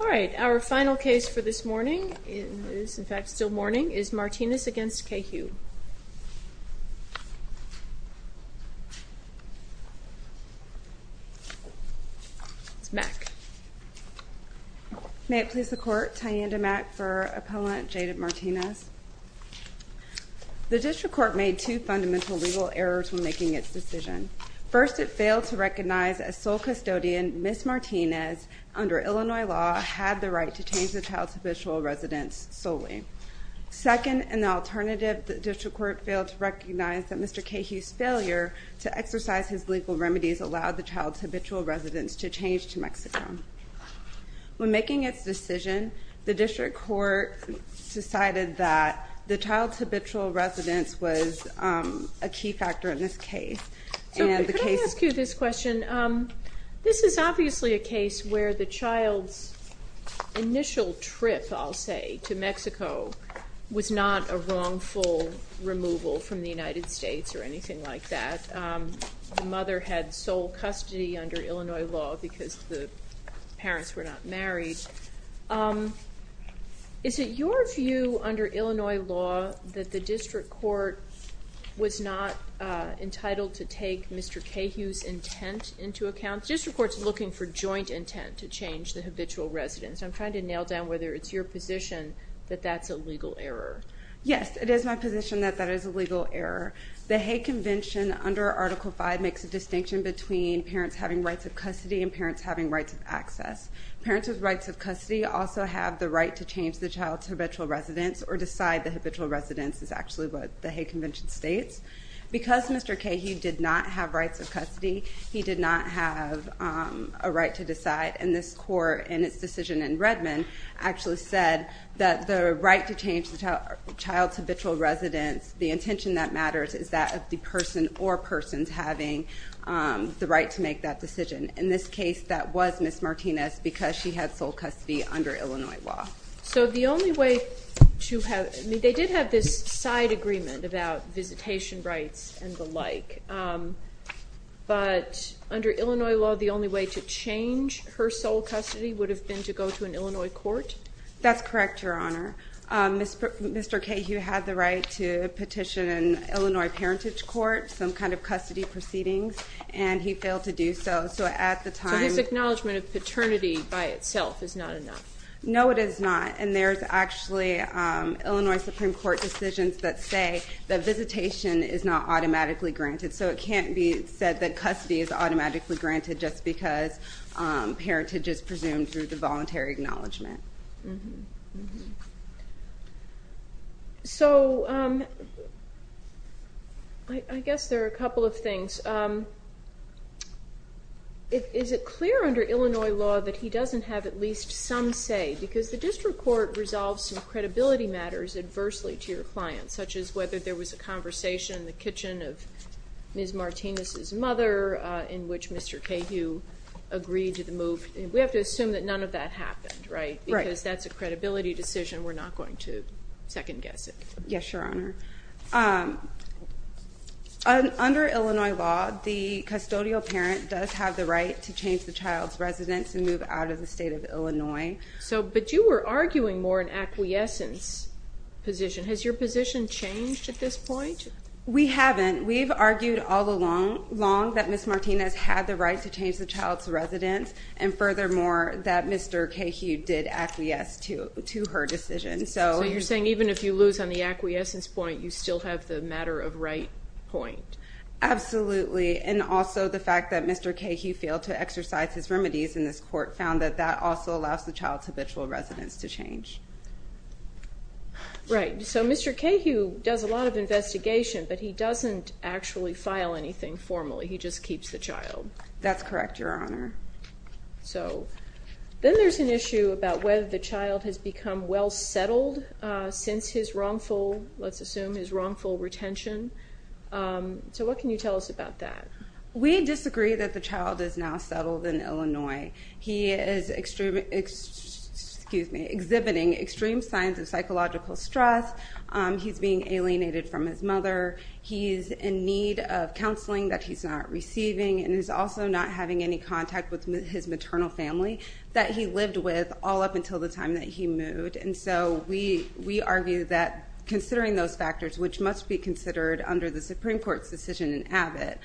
All right. Our final case for this morning is, in fact, still morning, is Martinez v. Cahue. It's Mack. May it please the court, Ty'Anda Mack for Appellant Jaded Martinez. The district court made two fundamental legal errors when making its decision. First, it failed to recognize a sole custodian, Miss Martinez, under Illinois law, had the right to change the child's habitual residence solely. Second, in the alternative, the district court failed to recognize that Mr. Cahue's failure to exercise his legal remedies allowed the child's habitual residence to change to Mexico. When making its decision, the district court decided that the child's habitual residence was a key factor in this case. And the case is- So, could I ask you this question? This is obviously a case where the child's initial trip, I'll say, to Mexico was not a wrongful removal from the United States or anything like that. The mother had sole custody under Illinois law because the parents were not married. Is it your view, under Illinois law, that the district court was not entitled to take Mr. Cahue's intent into account? The district court's looking for joint intent to change the habitual residence. I'm trying to nail down whether it's your position that that's a legal error. Yes, it is my position that that is a legal error. The Hague Convention, under Article V, makes a distinction between parents having rights of custody and parents having rights of access. Parents with rights of custody also have the right to change the child's habitual residence or decide the habitual residence is actually what the Hague Convention states. Because Mr. Cahue did not have rights of custody, he did not have a right to decide. And this court, in its decision in Redmond, actually said that the right to change the child's habitual residence, the intention that matters, is that of the person or persons having the right to make that decision. In this case, that was Ms. Martinez because she had sole custody under Illinois law. So the only way to have, I mean, they did have this side agreement about visitation rights and the like. But under Illinois law, the only way to change her sole custody would have been to go to an Illinois court? That's correct, Your Honor. Mr. Cahue had the right to petition an Illinois parentage court, some kind of custody proceedings, and he failed to do so. So at the time. So his acknowledgment of paternity by itself is not enough. No, it is not. And there's actually Illinois Supreme Court decisions that say that visitation is not automatically granted. So it can't be said that custody is automatically granted just because parentage is presumed through the voluntary acknowledgment. So I guess there are a couple of things. Is it clear under Illinois law that he doesn't have at least some say? Because the district court resolves some credibility matters adversely to your clients, such as whether there was a conversation in the kitchen of Ms. Martinez's mother in which Mr. Cahue agreed to the move. We have to assume that none of that happened, right? Because that's a credibility decision. We're not going to second guess it. Yes, Your Honor. Under Illinois law, the custodial parent does have the right to change the child's residence and move out of the state of Illinois. But you were arguing more an acquiescence position. Has your position changed at this point? We haven't. We've argued all along that Ms. Martinez had the right to change the child's residence. And furthermore, that Mr. Cahue did acquiesce to her decision. So you're saying even if you lose on the acquiescence point, you still have the matter of right point? Absolutely. And also the fact that Mr. Cahue failed to exercise his remedies in this court found that that also allows the child's habitual residence to change. Right, so Mr. Cahue does a lot of investigation, but he doesn't actually file anything formally. He just keeps the child. That's correct, Your Honor. So then there's an issue about whether the child has become well settled since his wrongful, let's assume his wrongful retention. We disagree that the child is now settled in Illinois. He is exhibiting extreme signs of psychological stress. He's being alienated from his mother. He's in need of counseling that he's not receiving. And he's also not having any contact with his maternal family that he lived with all up until the time that he moved. And so we argue that considering those factors, which must be considered under the Supreme Court's decision in Abbott,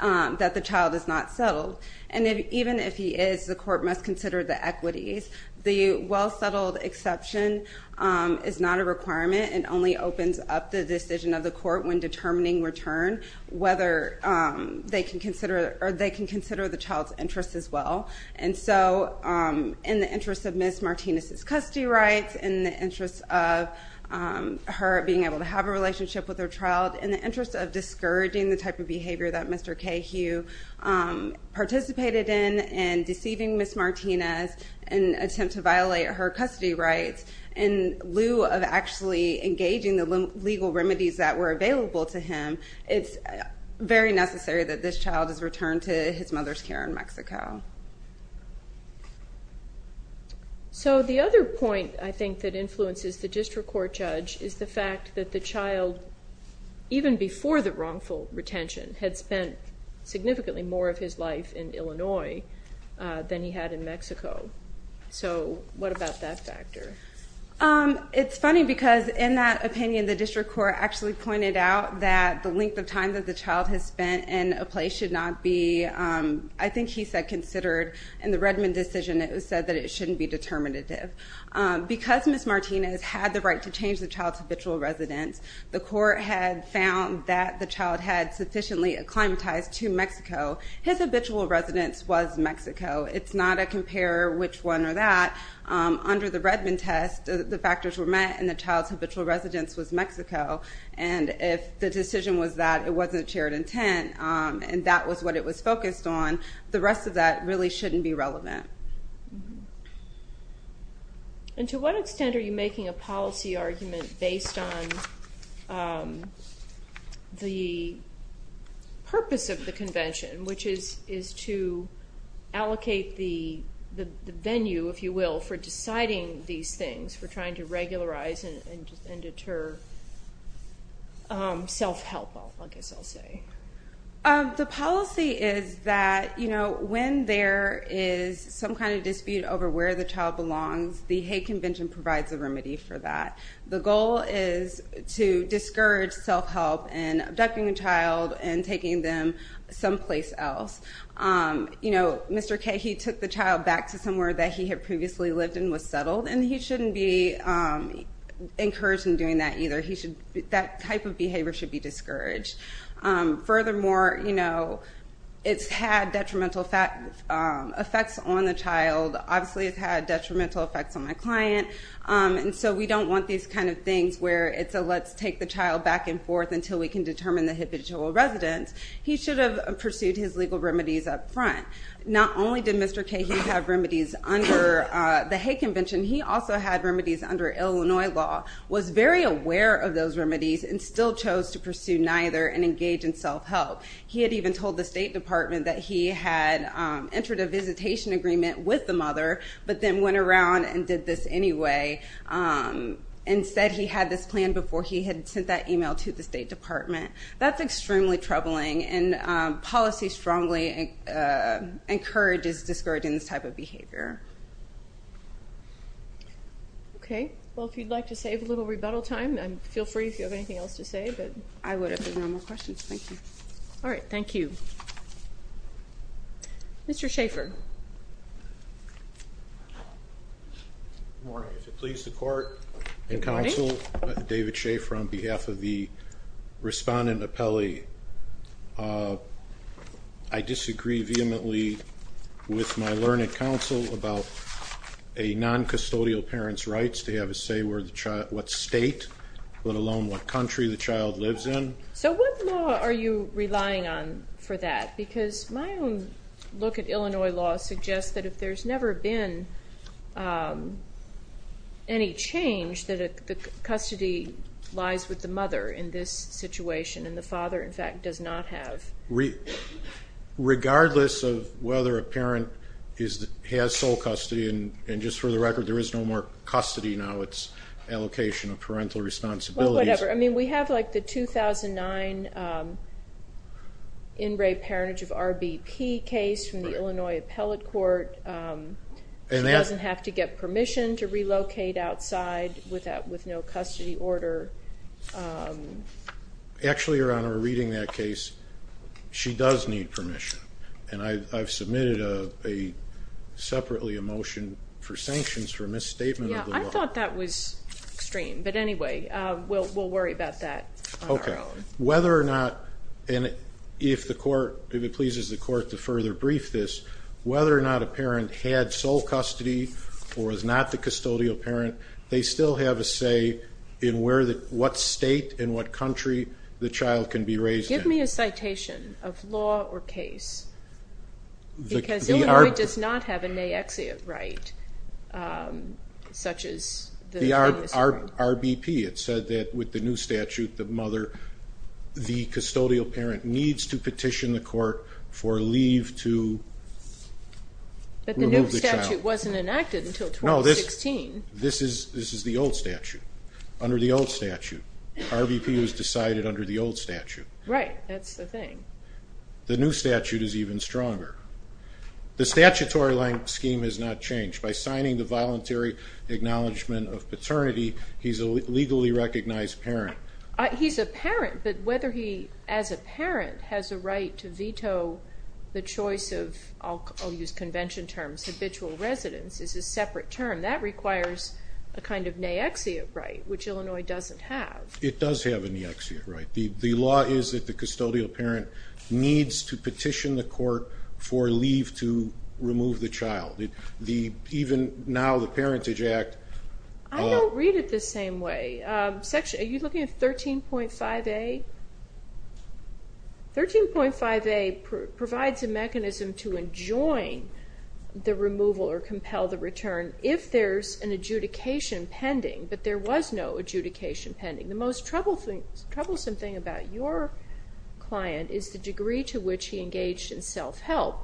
that the child is not settled. And even if he is, the court must consider the equities. The well settled exception is not a requirement. It only opens up the decision of the court when determining return, whether they can consider the child's interests as well. And so in the interest of Ms. Martinez's custody rights, in the interest of her being able to have a relationship with her child, in the interest of discouraging the type of behavior that Mr. Cahew participated in, and deceiving Ms. Martinez, and attempt to violate her custody rights, in lieu of actually engaging the legal remedies that were available to him, it's very necessary that this child is returned to his mother's care in Mexico. So the other point, I think, that influences the district court judge is the fact that the child, even before the wrongful retention, had spent significantly more of his life in Illinois than he had in Mexico. So what about that factor? It's funny, because in that opinion, the district court actually pointed out that the length of time that the child has spent in a place should not be, I think he said, considered. In the Redmond decision, it was said that it shouldn't be determinative. Because Ms. Martinez had the right to change the child's habitual residence, the court had found that the child had sufficiently acclimatized to Mexico. His habitual residence was Mexico. It's not a compare which one or that. Under the Redmond test, the factors were met, and the child's habitual residence was Mexico. And if the decision was that it wasn't a shared intent, and that was what it was focused on, the rest of that really shouldn't be relevant. And to what extent are you making a policy argument based on the purpose of the convention, which is to allocate the venue, if you will, for deciding these things, for trying to regularize and deter self-help, I guess I'll say? The policy is that when there is some kind of dispute over where the child belongs, the Hague Convention provides a remedy for that. The goal is to discourage self-help in abducting a child and taking them someplace else. Mr. K, he took the child back to somewhere that he had previously lived in, was settled, and he shouldn't be encouraged in doing that either. That type of behavior should be discouraged. Furthermore, it's had detrimental effects on the child. Obviously, it's had detrimental effects on my client. And so we don't want these kind of things where it's a let's take the child back and forth until we can determine the habitual residence. He should have pursued his legal remedies up front. Not only did Mr. K have remedies under the Hague Convention, he also had remedies under Illinois law, was very aware of those remedies, and still chose to pursue neither and engage in self-help. He had even told the State Department that he had entered a visitation agreement with the mother, but then went around and did this anyway. Instead, he had this plan before he had sent that email to the State Department. That's extremely troubling, and policy strongly encourages discouraging this type of behavior. Okay, well, if you'd like to save a little rebuttal time, feel free if you have anything else to say, but I would if there's no more questions. Thank you. All right, thank you. Mr. Schaefer. Good morning. If it pleases the Court and counsel, David Schaefer on behalf of the respondent appellee. I disagree vehemently with my learned counsel about a non-custodial parent's rights to have a say what state, let alone what country the child lives in. So what law are you relying on for that? Because my own look at Illinois law suggests that if there's never been any change, that the custody lies with the mother in this situation, and the father, in fact, does not have. Regardless of whether a parent has sole custody, and just for the record, there is no more custody now. It's allocation of parental responsibilities. Well, whatever. I mean, we have like the 2009 in-rape parentage of RBP case from the Illinois Appellate Court. She doesn't have to get permission to relocate outside with no custody order. Actually, Your Honor, reading that case, she does need permission. And I've submitted separately a motion for sanctions for misstatement of the law. Yeah, I thought that was extreme. But anyway, we'll worry about that on our own. Whether or not, and if the Court, if it pleases the Court to further brief this, whether or not a parent had sole custody or is not the custodial parent, they still have a say in what state and what country the child can be raised in. Give me a citation of law or case. Because Illinois does not have a naexia right, such as the previous one. RBP, it said that with the new statute, the mother, the custodial parent needs to petition the Court for leave to remove the child. But the new statute wasn't enacted until 2016. This is the old statute, under the old statute. RBP was decided under the old statute. Right, that's the thing. The new statute is even stronger. The statutory length scheme has not changed. By signing the voluntary acknowledgement of paternity, he's a legally recognized parent. He's a parent, but whether he, as a parent, has a right to veto the choice of, I'll use convention terms, habitual residence is a separate term. That requires a kind of naexia right, which Illinois doesn't have. It does have a naexia right. The law is that the custodial parent needs to petition the Court for leave to remove the child. Even now, the Parentage Act. I don't read it the same way. Are you looking at 13.5A? 13.5A provides a mechanism to enjoin the removal or compel the return if there's an adjudication pending, but there was no adjudication pending. The most troublesome thing about your client is the degree to which he engaged in self-help.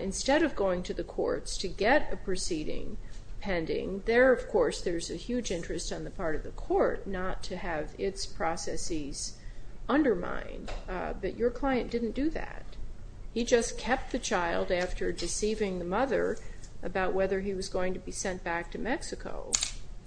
Instead of going to the courts to get a proceeding pending, there, of course, there's a huge interest on the part of the Court not to have its processes undermined, but your client didn't do that. He just kept the child after deceiving the mother about whether he was going to be sent back to Mexico.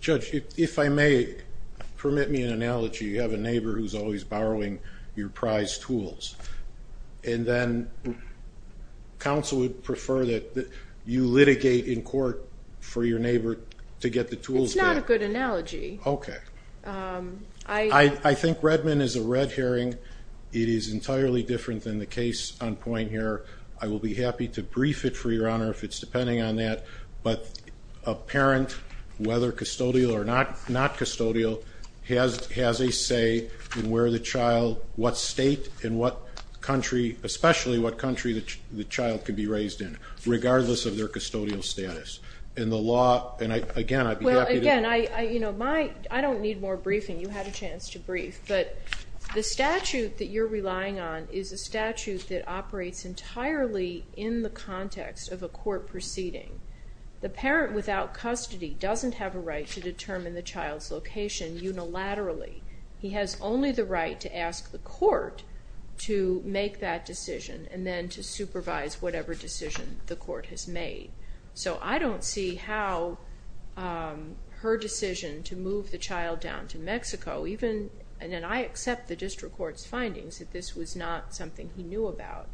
Judge, if I may, permit me an analogy. You have a neighbor who's always borrowing your prize tools, and then counsel would prefer that you litigate in court for your neighbor to get the tools back. That's not a good analogy. Okay. I think Redmond is a red herring. It is entirely different than the case on point here. I will be happy to brief it, for your honor, if it's depending on that, but a parent, whether custodial or not custodial, has a say in where the child, what state and what country, especially what country the child can be raised in, In the law, and again, I'd be happy to- I don't need more briefing. You had a chance to brief, but the statute that you're relying on is a statute that operates entirely in the context of a court proceeding. The parent without custody doesn't have a right to determine the child's location unilaterally. He has only the right to ask the court to make that decision, and then to supervise whatever decision the court has made. So I don't see how her decision to move the child down to Mexico, even, and then I accept the district court's findings that this was not something he knew about,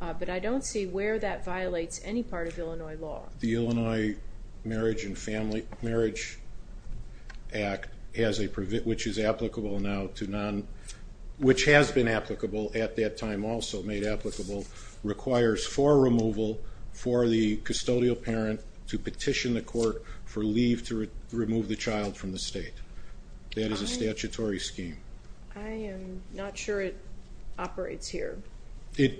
but I don't see where that violates any part of Illinois law. The Illinois Marriage and Family, Marriage Act, which is applicable now to non, which has been applicable at that time also, made applicable, requires for removal for the custodial parent to petition the court for leave to remove the child from the state. That is a statutory scheme. I am not sure it operates here. The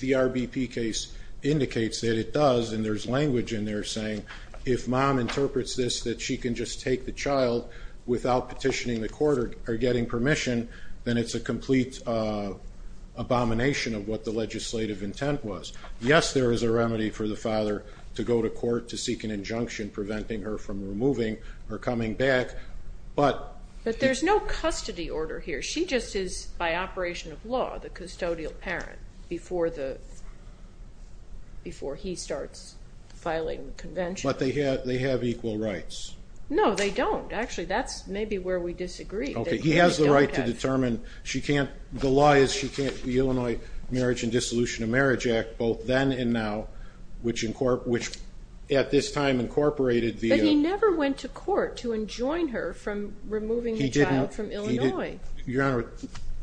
RBP case indicates that it does, and there's language in there saying, if mom interprets this, that she can just take the child without petitioning the court or getting permission, then it's a complete abomination of what the legislative intent was. Yes, there is a remedy for the father to go to court to seek an injunction preventing her from removing or coming back, but- But there's no custody order here. She just is, by operation of law, the custodial parent before he starts filing the convention. But they have equal rights. No, they don't. Actually, that's maybe where we disagree. Okay, he has the right to determine she can't, the law is she can't, the Illinois Marriage and Dissolution of Marriage Act, both then and now, which at this time incorporated the- But he never went to court to enjoin her from removing the child from Illinois. Your Honor,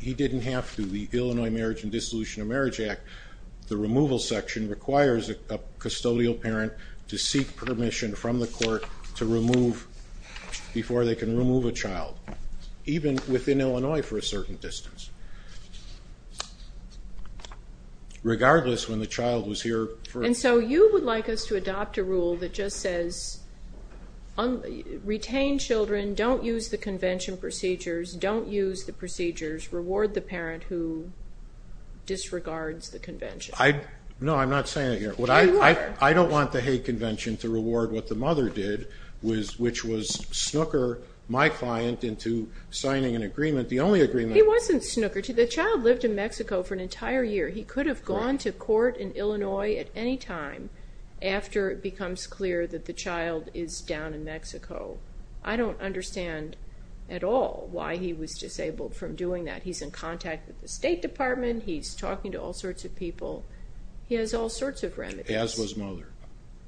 he didn't have to. The Illinois Marriage and Dissolution of Marriage Act, the removal section requires a custodial parent to seek permission from the court to remove before they can remove a child, even within Illinois for a certain distance, regardless when the child was here for- And so you would like us to adopt a rule that just says, retain children, don't use the convention procedures, don't use the procedures, reward the parent who disregards the convention. No, I'm not saying it here. I don't want the Hague Convention to reward what the mother did, which was snooker my client into signing an agreement. The only agreement- He wasn't snooker. The child lived in Mexico for an entire year. He could have gone to court in Illinois at any time after it becomes clear that the child is down in Mexico. I don't understand at all why he was disabled from doing that. He's in contact with the State Department. He's talking to all sorts of people. He has all sorts of remedies. As was mother.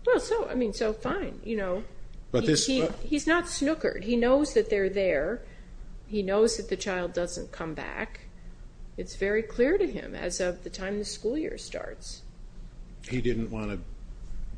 Well, so, I mean, so fine, you know. But this- He's not snookered. He knows that they're there. He knows that the child doesn't come back. It's very clear to him as of the time the school year starts. He didn't want to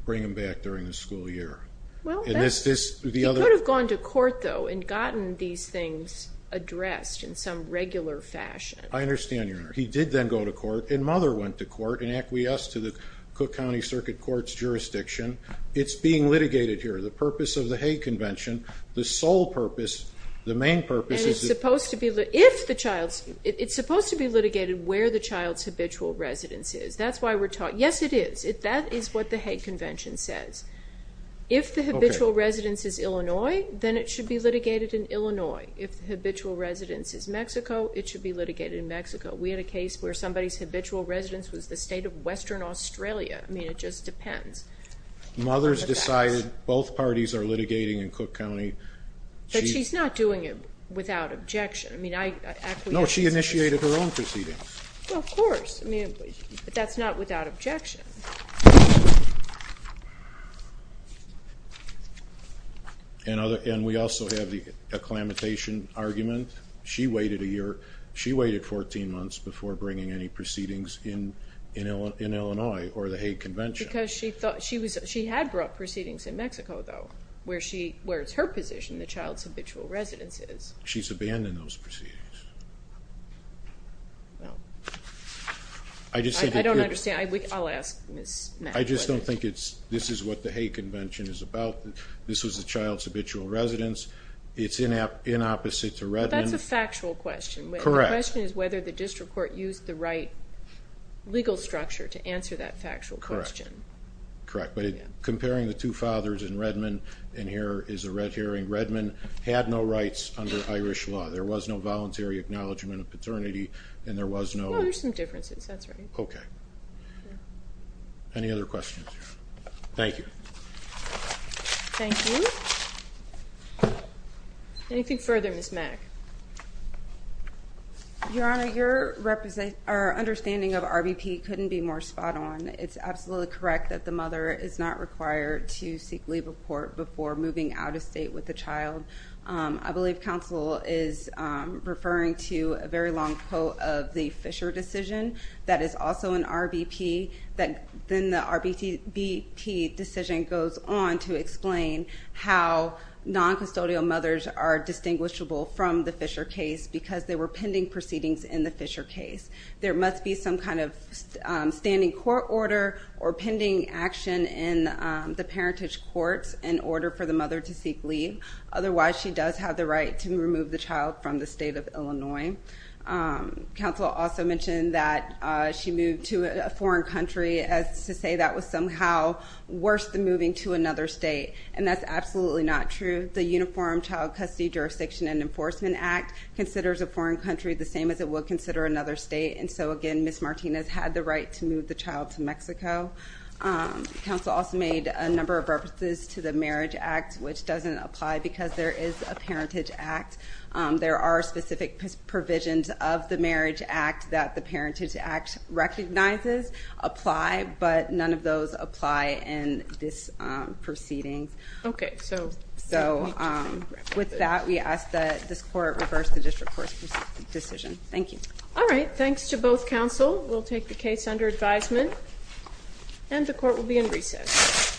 bring him back during the school year. Well, that's- And this, this, the other- He could have gone to court though and gotten these things addressed in some regular fashion. I understand, Your Honor. He did then go to court and mother went to court and acquiesced to the Cook County Circuit Court's jurisdiction. It's being litigated here. The purpose of the Hague Convention, the sole purpose, the main purpose- And it's supposed to be, if the child's, it's supposed to be litigated where the child's habitual residence is. That's why we're talking. Yes, it is. That is what the Hague Convention says. If the habitual residence is Illinois, then it should be litigated in Illinois. If the habitual residence is Mexico, it should be litigated in Mexico. We had a case where somebody's habitual residence was the state of Western Australia. I mean, it just depends. Mother's decided both parties are litigating in Cook County. But she's not doing it without objection. I mean, I- No, she initiated her own proceedings. Well, of course. I mean, but that's not without objection. And we also have the acclimatization argument. She waited a year. She waited 14 months before bringing any proceedings in Illinois or the Hague Convention. Because she thought, she had brought proceedings in Mexico, though, where it's her position the child's habitual residence is. She's abandoned those proceedings. I just said- I don't understand. I'll ask Ms. Mack. I just don't think it's, this is what the Hague Convention is about. This was the child's habitual residence. It's in opposite to Redmond. That's a factual question. Correct. The question is whether the district court used the right legal structure to answer that factual question. Correct. But comparing the two fathers in Redmond, and here is a red herring, Redmond had no rights under Irish law. There was no voluntary acknowledgement of paternity, and there was no- No, there's some differences. That's right. Okay. Any other questions? Thank you. Thank you. Anything further, Ms. Mack? Your Honor, your understanding of RBP couldn't be more spot on. It's absolutely correct that the mother is not required to seek leave of court before moving out of state with the child. I believe counsel is referring to a very long quote of the Fisher decision that is also an RBP, that then the RBP decision goes on to explain how non-custodial mothers are distinguishable from the Fisher case, because there were pending proceedings in the Fisher case. There must be some kind of standing court order or pending action in the parentage courts in order for the mother to seek leave. Otherwise, she does have the right to remove the child from the state of Illinois. Counsel also mentioned that she moved to a foreign country as to say that was somehow worse than moving to another state, and that's absolutely not true. The Uniform Child Custody Jurisdiction and Enforcement Act considers a foreign country the same as it would consider another state. And so again, Ms. Martinez had the right to move the child to Mexico. Counsel also made a number of references to the Marriage Act, which doesn't apply because there is a Parentage Act. There are specific provisions of the Marriage Act that the Parentage Act recognizes apply, but none of those apply in this proceeding. Okay, so. So with that, we ask that this court reverse the district court's decision. Thank you. All right, thanks to both counsel. We'll take the case under advisement, and the court will be in recess. Thank you.